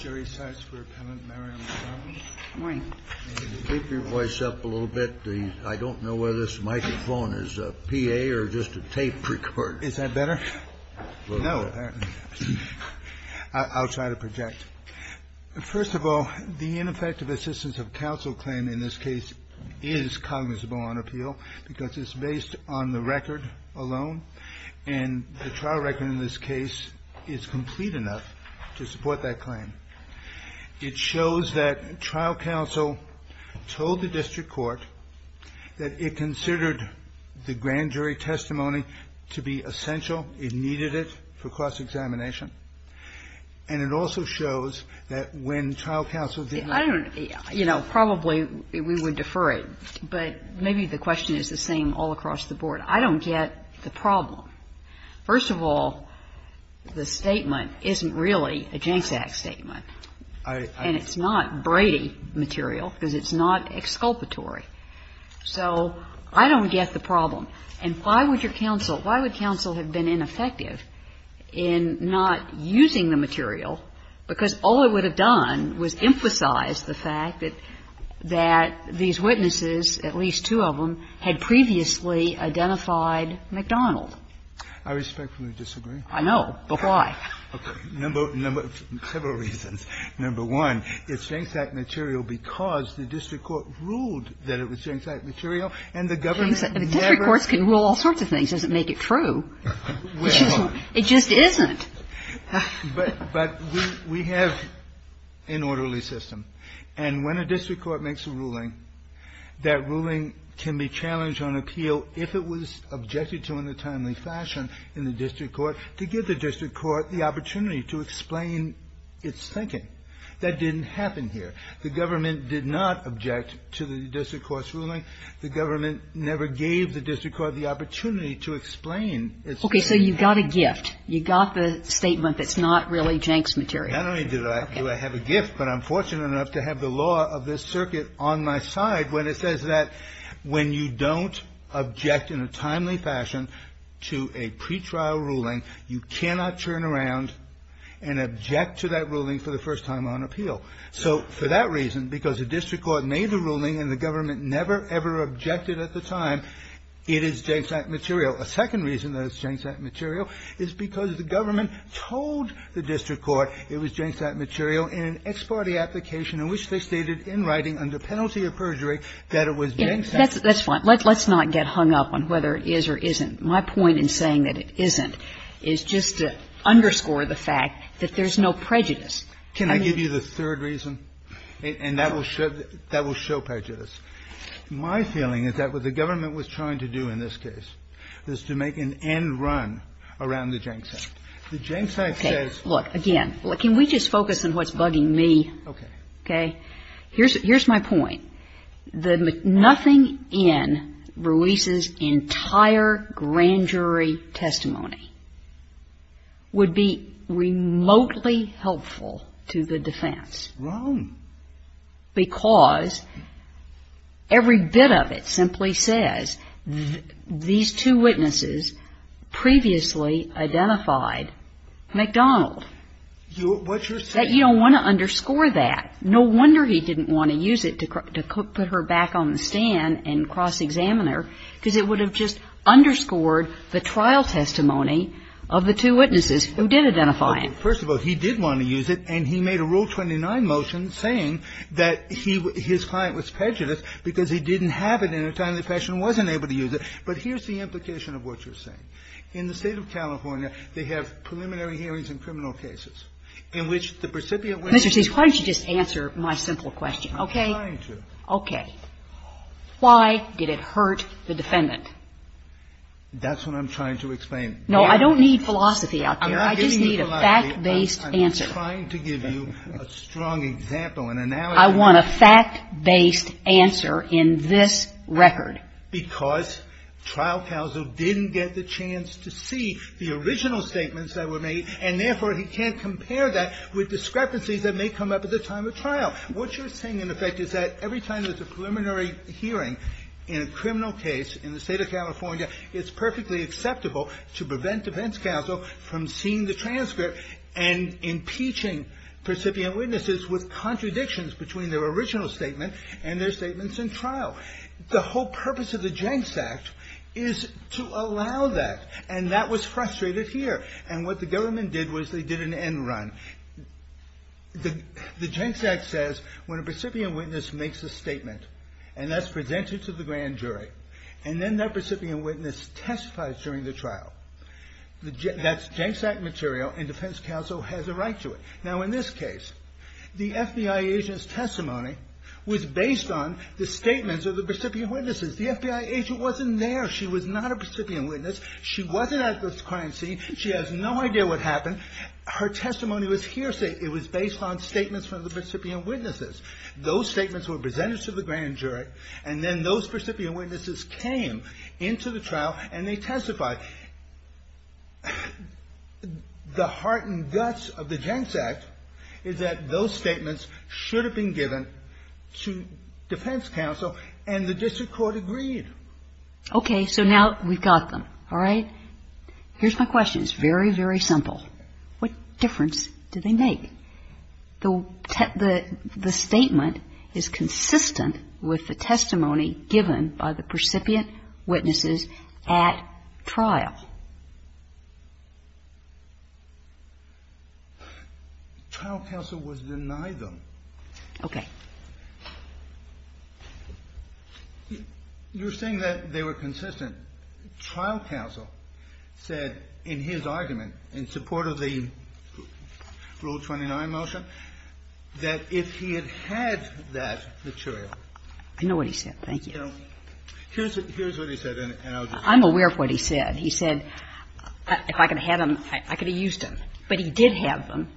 I don't know whether this microphone is a PA or just a tape recorder. Is that better? No, apparently not. I'll try to project. First of all, the ineffective assistance of counsel claim in this case is cognizable on appeal because it's based on the record alone. And the trial record in this case is complete enough to support that claim. It shows that trial counsel told the district court that it considered the grand jury testimony to be essential. It needed it for cross-examination. And it also shows that when trial counsel did not – First of all, the statement isn't really a Janczak statement. And it's not Brady material because it's not exculpatory. So I don't get the problem. And why would your counsel – why would counsel have been ineffective in not using the material? Because all it would have done was emphasize the fact that these witnesses, at least two of them, had previously identified McDonald. I respectfully disagree. I know. But why? Okay. Number – several reasons. Number one, it's Janczak material because the district court ruled that it was Janczak material, and the government never – The district courts can rule all sorts of things. It doesn't make it true. Well – It just isn't. But we have an orderly system. And when a district court makes a ruling, that ruling can be challenged on appeal if it was objected to in a timely fashion in the district court to give the district court the opportunity to explain its thinking. That didn't happen here. The government did not object to the district court's ruling. The government never gave the district court the opportunity to explain its thinking. Okay. So you got a gift. You got the statement that's not really Janczak material. Not only do I have a gift, but I'm fortunate enough to have the law of this circuit on my side when it says that when you don't object in a timely fashion to a pretrial ruling, you cannot turn around and object to that ruling for the first time on appeal. So for that reason, because the district court made the ruling and the government never, ever objected at the time, it is Janczak material. A second reason that it's Janczak material is because the government told the district court it was Janczak material in an ex parte application in which they stated in writing under penalty of perjury that it was Janczak. That's fine. Let's not get hung up on whether it is or isn't. My point in saying that it isn't is just to underscore the fact that there's no prejudice. Can I give you the third reason? And that will show prejudice. My feeling is that what the government was trying to do in this case is to make an end run around the Janczak. The Janczak says that the Janczak is not Janczak. Kagan. Okay. Look, again, can we just focus on what's bugging me? Okay. Okay. Here's my point. Nothing in Ruiz's entire grand jury testimony would be remotely helpful to the defense. Wrong. Because every bit of it simply says these two witnesses previously identified MacDonald. What's your saying? That you don't want to underscore that. No wonder he didn't want to use it to put her back on the stand and cross-examine her, because it would have just underscored the trial testimony of the two witnesses who did identify him. First of all, he did want to use it, and he made a Rule 29 motion saying that his client was prejudiced because he didn't have it in a time when the defense wasn't able to use it. But here's the implication of what you're saying. In the State of California, they have preliminary hearings in criminal cases in which the precipient witness is a defendant. Mr. Chase, why don't you just answer my simple question, okay? I'm trying to. Okay. Why did it hurt the defendant? That's what I'm trying to explain. No, I don't need philosophy out there. I just need a fact-based answer. I'm trying to give you a strong example, an analogy. I want a fact-based answer in this record. Because trial counsel didn't get the chance to see the original statements that were made, and therefore, he can't compare that with discrepancies that may come up at the time of trial. What you're saying, in effect, is that every time there's a preliminary hearing in a criminal case in the State of California, it's perfectly acceptable to prevent defense counsel from seeing the transcript and impeaching precipient witnesses with contradictions between their original statement and their statements in trial. The whole purpose of the Jenks Act is to allow that. And that was frustrated here. And what the government did was they did an end run. The Jenks Act says when a precipient witness makes a statement, and that's presented to the grand jury, and then that precipient witness testifies during the trial, that's Jenks Act material, and defense counsel has a right to it. Now, in this case, the FBI agent's testimony was based on the statements of the precipient witnesses. The FBI agent wasn't there. She was not a precipient witness. She wasn't at the crime scene. She has no idea what happened. Her testimony was hearsay. It was based on statements from the precipient witnesses. Those statements were presented to the grand jury, and then those precipient witnesses came into the trial, and they testified. The heart and guts of the Jenks Act is that those statements should have been given to defense counsel, and the district court agreed. Okay. So now we've got them. All right? Here's my question. It's very, very simple. What difference do they make? The statement is consistent with the testimony given by the precipient witnesses at trial. Trial counsel was denied them. Okay. You're saying that they were consistent. The trial counsel said in his argument, in support of the Rule 29 motion, that if he had had that material. I know what he said. Thank you. Here's what he said, and I'll just say it. I'm aware of what he said. He said, if I could have had them, I could have used them. But he did have them.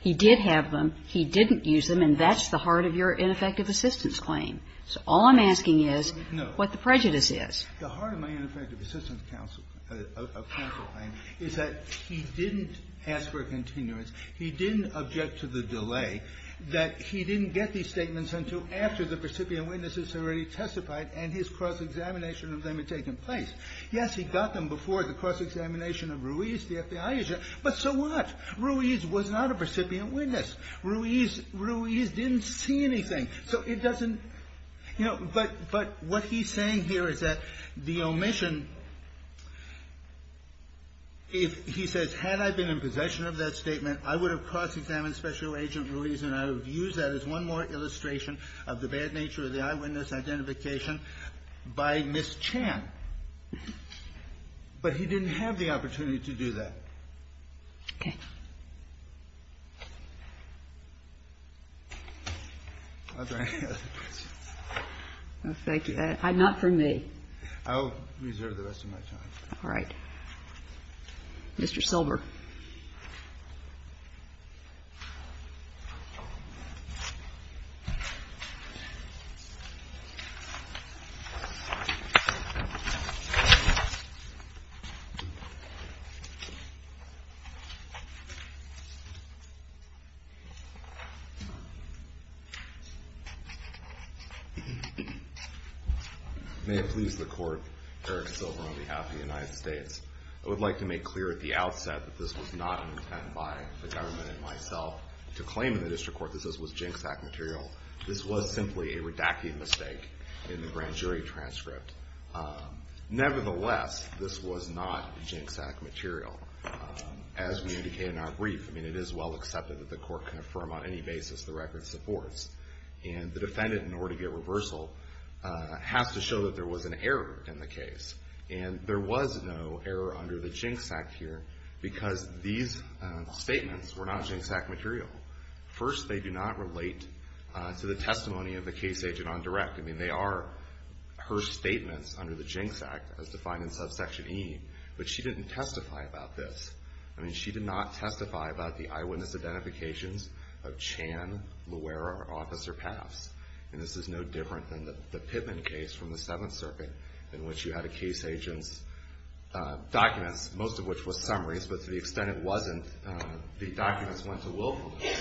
He did have them. He didn't use them, and that's the heart of your ineffective assistance claim. So all I'm asking is what the prejudice is. The heart of my ineffective assistance counsel claim is that he didn't ask for a continuance. He didn't object to the delay that he didn't get these statements until after the precipient witnesses had already testified and his cross-examination of them had taken place. Yes, he got them before the cross-examination of Ruiz, the FBI agent, but so what? Ruiz was not a precipient witness. Ruiz didn't see anything. So it doesn't, you know, but what he's saying here is that the omission, if he says, had I been in possession of that statement, I would have cross-examined Special Agent Ruiz and I would have used that as one more illustration of the bad nature of the eyewitness identification by Ms. Chan. But he didn't have the opportunity to do that. Okay. Thank you. Not for me. I'll reserve the rest of my time. All right. Mr. Silver. May it please the Court, Eric Silver on behalf of the United States. I would like to make clear at the outset that this was not an intent by the government and myself to claim in the district court that this was ginseng material. This was simply a redacting mistake in the grand jury transcript. Nevertheless, this was not ginseng material. As we indicated in our brief, I mean, it is well accepted that the court can affirm on any basis the record supports. And the defendant, in order to get reversal, has to show that there was an error in the case. And there was no error under the Jinx Act here because these statements were not ginseng material. First, they do not relate to the testimony of the case agent on direct. I mean, they are her statements under the Jinx Act as defined in subsection E. But she didn't testify about this. I mean, she did not testify about the eyewitness identifications of Chan, Loera, or Officer Paffs. And this is no different than the Pittman case from the Seventh Circuit in which you had a case agent's documents, most of which were summaries. But to the extent it wasn't, the documents went to willfulness.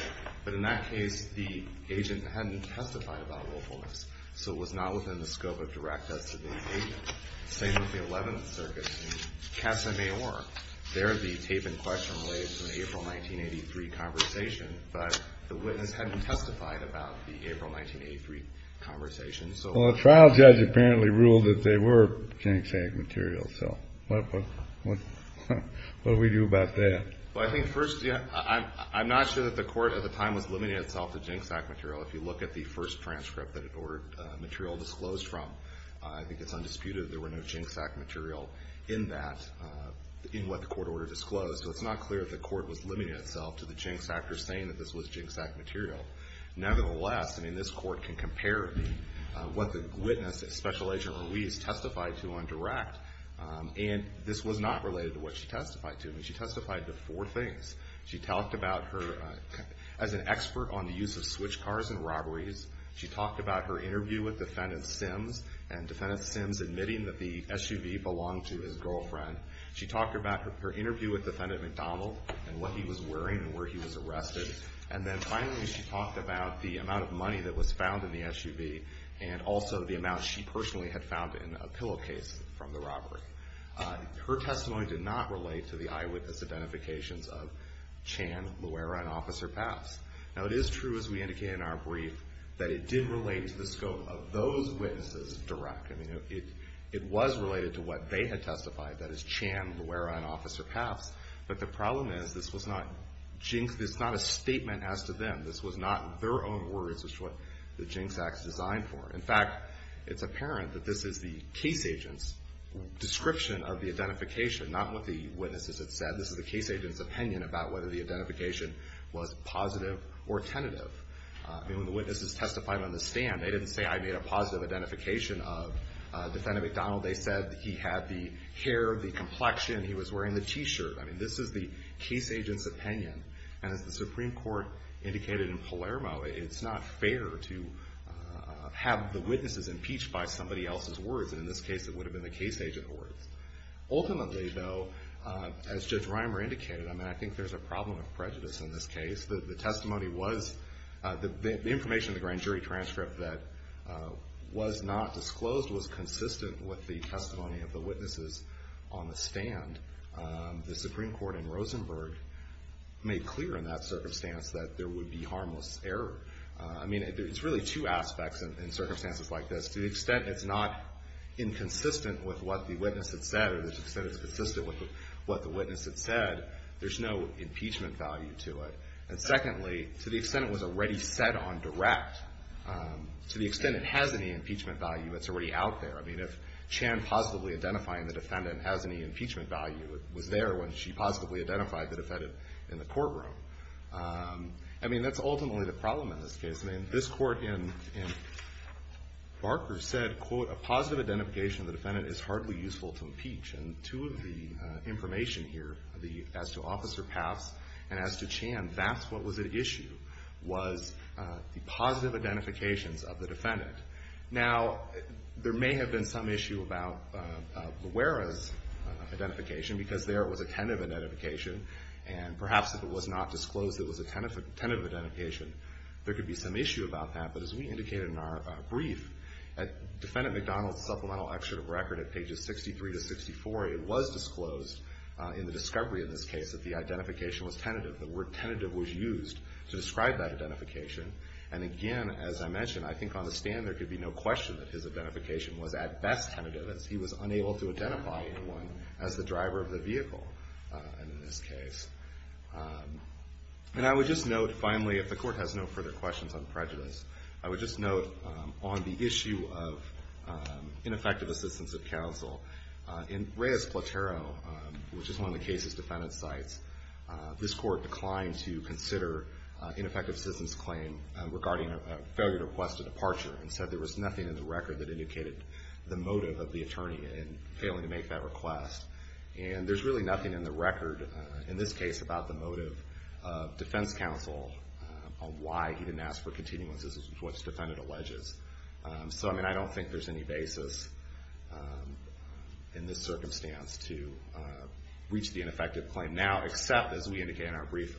But in that case, the agent hadn't testified about willfulness. So it was not within the scope of direct as to the agent. Same with the Eleventh Circuit in Casa Mayor. There, the tape in question relates to the April 1983 conversation. But the witness hadn't testified about the April 1983 conversation. Well, the trial judge apparently ruled that they were Jinx Act material. So what do we do about that? Well, I think first, I'm not sure that the Court at the time was limiting itself to Jinx Act material. If you look at the first transcript that it ordered material disclosed from, I think it's undisputed that there were no Jinx Act material in that, in what the Court ordered disclosed. So it's not clear that the Court was limiting itself to the Jinx Act or saying that this was Jinx Act material. Nevertheless, I mean, this Court can compare what the witness, Special Agent Ruiz, testified to on direct. And this was not related to what she testified to. I mean, she testified to four things. She talked about her as an expert on the use of switch cars in robberies. She talked about her interview with Defendant Sims, and Defendant Sims admitting that the SUV belonged to his girlfriend. She talked about her interview with Defendant McDonald and what he was wearing and where he was arrested. And then finally, she talked about the amount of money that was found in the SUV and also the amount she personally had found in a pillowcase from the robbery. Her testimony did not relate to the eyewitness identifications of Chan, Luera, and Officer Papps. Now, it is true, as we indicated in our brief, that it did relate to the scope of those witnesses direct. I mean, it was related to what they had testified, that is Chan, Luera, and Officer Papps. But the problem is this was not a statement as to them. This was not their own words as to what the Jinx Act is designed for. In fact, it's apparent that this is the case agent's description of the identification, not what the witnesses had said. This is the case agent's opinion about whether the identification was positive or tentative. I mean, when the witnesses testified on the stand, they didn't say I made a positive identification of Defendant McDonald. They said he had the hair, the complexion, he was wearing the T-shirt. I mean, this is the case agent's opinion. And as the Supreme Court indicated in Palermo, it's not fair to have the witnesses impeached by somebody else's words. And in this case, it would have been the case agent's words. Ultimately, though, as Judge Reimer indicated, I mean, I think there's a problem of prejudice in this case. The testimony was, the information in the grand jury transcript that was not disclosed was consistent with the testimony of the witnesses on the stand. The Supreme Court in Rosenberg made clear in that circumstance that there would be harmless error. I mean, it's really two aspects in circumstances like this. To the extent it's not inconsistent with what the witness had said or to the extent it's consistent with what the witness had said, there's no impeachment value to it. And secondly, to the extent it was already set on direct, to the extent it has any impeachment value, it's already out there. I mean, if Chan positively identifying the defendant has any impeachment value, it was there when she positively identified the defendant in the courtroom. I mean, that's ultimately the problem in this case. I mean, this Court in Barker said, quote, a positive identification of the defendant is hardly useful to impeach. And two of the information here as to Officer Paffs and as to Chan, that's what was at issue was the positive identifications of the defendant. Now, there may have been some issue about Loera's identification because there it was a tentative identification. And perhaps if it was not disclosed it was a tentative identification, there could be some issue about that. But as we indicated in our brief, at Defendant McDonald's supplemental excerpt of record at pages 63 to 64, it was disclosed in the discovery in this case that the identification was tentative. The word tentative was used to describe that identification. And again, as I mentioned, I think on the stand there could be no question that his identification was at best tentative as he was unable to identify anyone as the driver of the vehicle in this case. And I would just note, finally, if the Court has no further questions on prejudice, I would just note on the issue of ineffective assistance of counsel, in Reyes-Platero, which is one of the case's defendant sites, this Court declined to consider ineffective assistance claim regarding a failure to request a departure and said there was nothing in the record that indicated the motive of the attorney in failing to make that request. And there's really nothing in the record, in this case, about the motive of defense counsel on why he didn't ask for continuous assistance, which the defendant alleges. So, I mean, I don't think there's any basis in this circumstance to reach the ineffective claim now, except, as we indicate in our brief,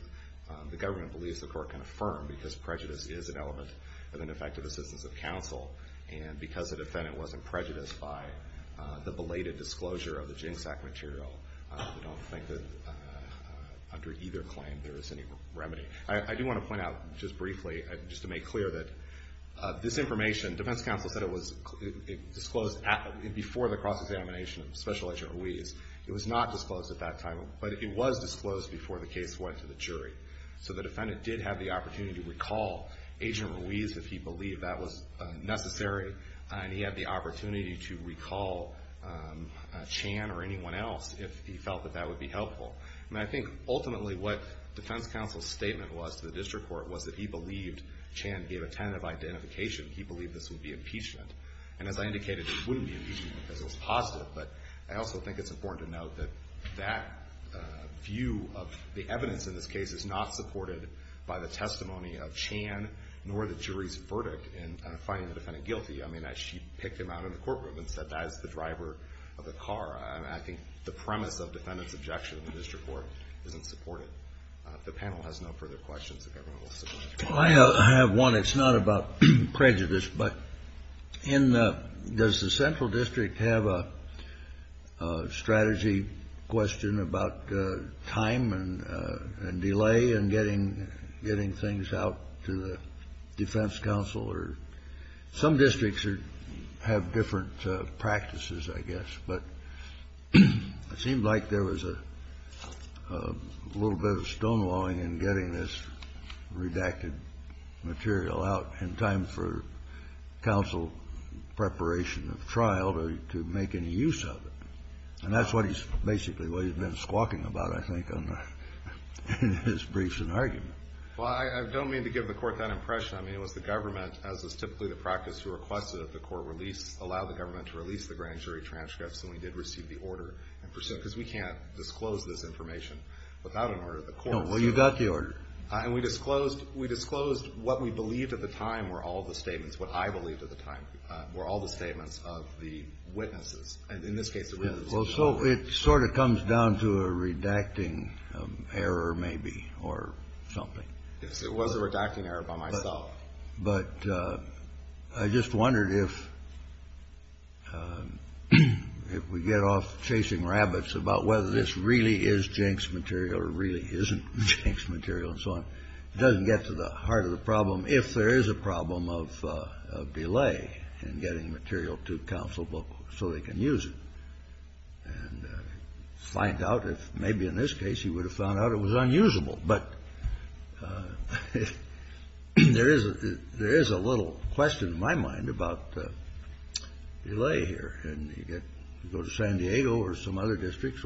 the government believes the Court can affirm because prejudice is an element of ineffective assistance of counsel. And because the defendant wasn't prejudiced by the belated disclosure of the GINSAC material, I don't think that under either claim there is any remedy. I do want to point out, just briefly, just to make clear, that this information, defense counsel said it was disclosed before the cross-examination of Special Agent Ruiz. It was not disclosed at that time, but it was disclosed before the case went to the jury. So the defendant did have the opportunity to recall Agent Ruiz if he believed that was necessary, and he had the opportunity to recall Chan or anyone else if he felt that that would be helpful. And I think, ultimately, what defense counsel's statement was to the District Court was that he believed Chan gave a tentative identification. He believed this would be impeachment. And as I indicated, it wouldn't be impeachment because it was positive, but I also think it's important to note that that view of the evidence in this case is not supported by the testimony of Chan, nor the jury's verdict in finding the defendant guilty. I mean, she picked him out of the courtroom and said, that is the driver of the car. I think the premise of defendant's objection in the District Court isn't supported. The panel has no further questions. If everyone will submit their comments. I have one. It's not about prejudice, but does the central district have a strategy question about time and delay in getting things out to the defense counsel? Some districts have different practices, I guess, but it seemed like there was a little bit of stonewalling in getting this redacted material out in time for counsel preparation of trial to make any use of it. And that's basically what he's been squawking about, I think, in his briefs and arguments. Well, I don't mean to give the Court that impression. I mean, it was the government, as is typically the practice, who requested that the Court allow the government to release the grand jury transcripts and we did receive the order. Because we can't disclose this information without an order of the Court. No, well, you got the order. And we disclosed what we believed at the time were all the statements, what I believed at the time were all the statements of the witnesses. And in this case, it really is. Well, so it sort of comes down to a redacting error, maybe, or something. Yes, it was a redacting error by myself. But I just wondered if we get off chasing rabbits about whether this really is jinxed material or really isn't jinxed material and so on. It doesn't get to the heart of the problem if there is a problem of delay in getting material to counsel so they can use it and find out if maybe in this case he would have found out it was unusable. But there is a little question in my mind about delay here. And you go to San Diego or some other district,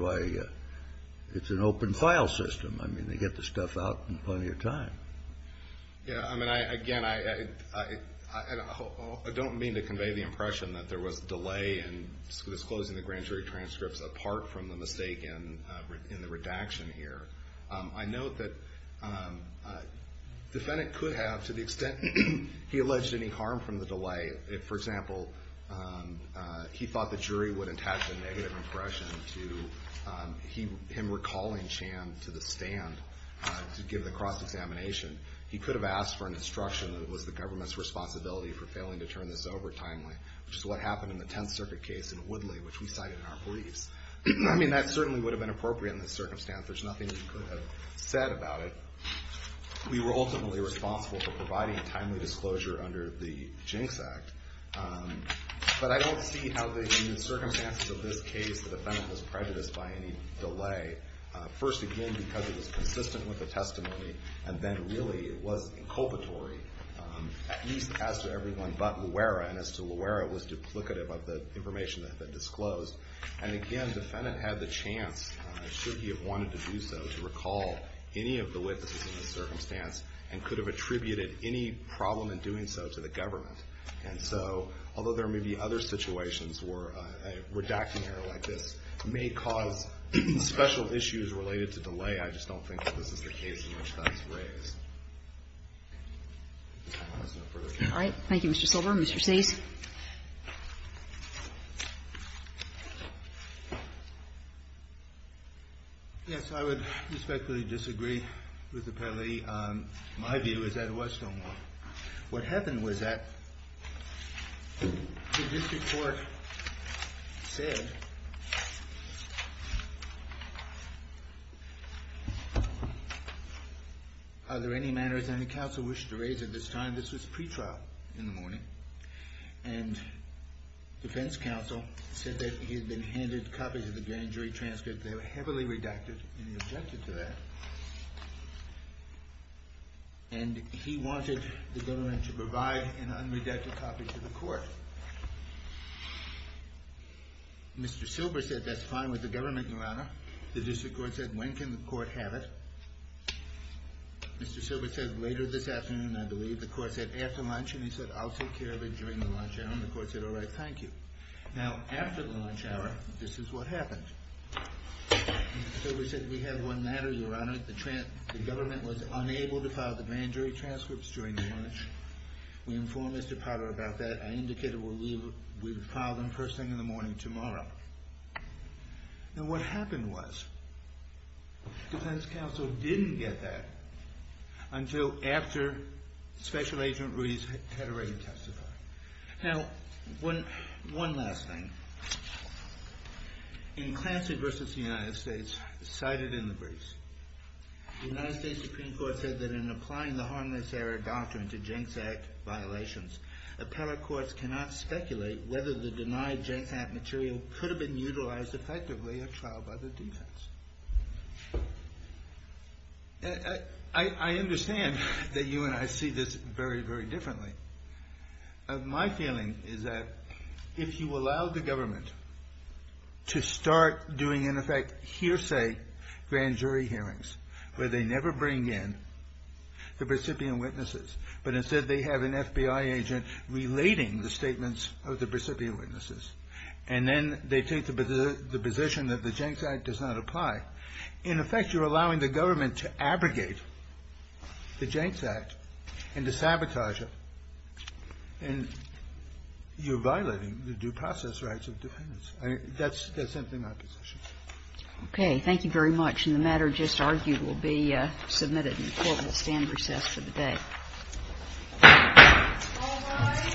it's an open file system. I mean, they get the stuff out in plenty of time. Yes, I mean, again, I don't mean to convey the impression that there was delay in disclosing the grand jury transcripts apart from the mistake in the redaction here. I note that the defendant could have, to the extent he alleged any harm from the delay, for example, he thought the jury would attach a negative impression to him recalling Chan to the stand to give the cross-examination. He could have asked for an instruction that it was the government's responsibility for failing to turn this over timely, which is what happened in the Tenth Circuit case in Woodley, which we cited in our briefs. I mean, that certainly would have been appropriate in this circumstance. There's nothing he could have said about it. We were ultimately responsible for providing timely disclosure under the Jinx Act. But I don't see how in the circumstances of this case the defendant was prejudiced by any delay. First, again, because it was consistent with the testimony, and then really it was inculpatory, at least as to everyone but Loera, and as to Loera it was duplicative of the information that had been disclosed. And again, the defendant had the chance, should he have wanted to do so, to recall any of the witnesses in this circumstance and could have attributed any problem in doing so to the government. And so, although there may be other situations where a redacting error like this may cause special issues related to delay, I just don't think that this is the case in which that's raised. If there's no further questions. All right. Thank you, Mr. Silver. Mr. Cease. Cease. Yes, I would respectfully disagree with the penalty. My view is that it was stonewalled. What happened was that the district court said, are there any matters any counsel wished to raise at this time? This was pretrial in the morning. And defense counsel said that he had been handed copies of the grand jury transcript. They were heavily redacted, and he objected to that. And he wanted the government to provide an unredacted copy to the court. Mr. Silver said that's fine with the government, Your Honor. The district court said, when can the court have it? Mr. Silver said, later this afternoon, I believe. The court said, after lunch. And he said, I'll take care of it during the lunch hour. And the court said, all right. Thank you. Now, after the lunch hour, this is what happened. Mr. Silver said, we have one matter, Your Honor. The government was unable to file the grand jury transcripts during the lunch. We informed Mr. Potter about that. I indicated we would file them first thing in the morning tomorrow. Now, what happened was defense counsel didn't get that until after Special Agent Ruiz had already testified. Now, one last thing. In Clancy v. The United States, cited in the briefs, the United States Supreme Court said that in applying the harmless error doctrine to Jenks Act violations, appellate courts cannot speculate whether the denied Jenks Act material could have been utilized effectively or trialed by the defense. I understand that you and I see this very, very differently. My feeling is that if you allow the government to start doing, in effect, hearsay grand jury hearings, where they never bring in the recipient witnesses, but instead they have an FBI agent relating the statements of the recipient witnesses, and then they take the position that the Jenks Act does not apply, in effect you're allowing the government to abrogate the Jenks Act and to sabotage it. And you're violating the due process rights of defendants. That's simply my position. Okay. Thank you very much. And the matter just argued will be submitted in court. We'll stand recess for the day. All rise. Thank you. Thank you.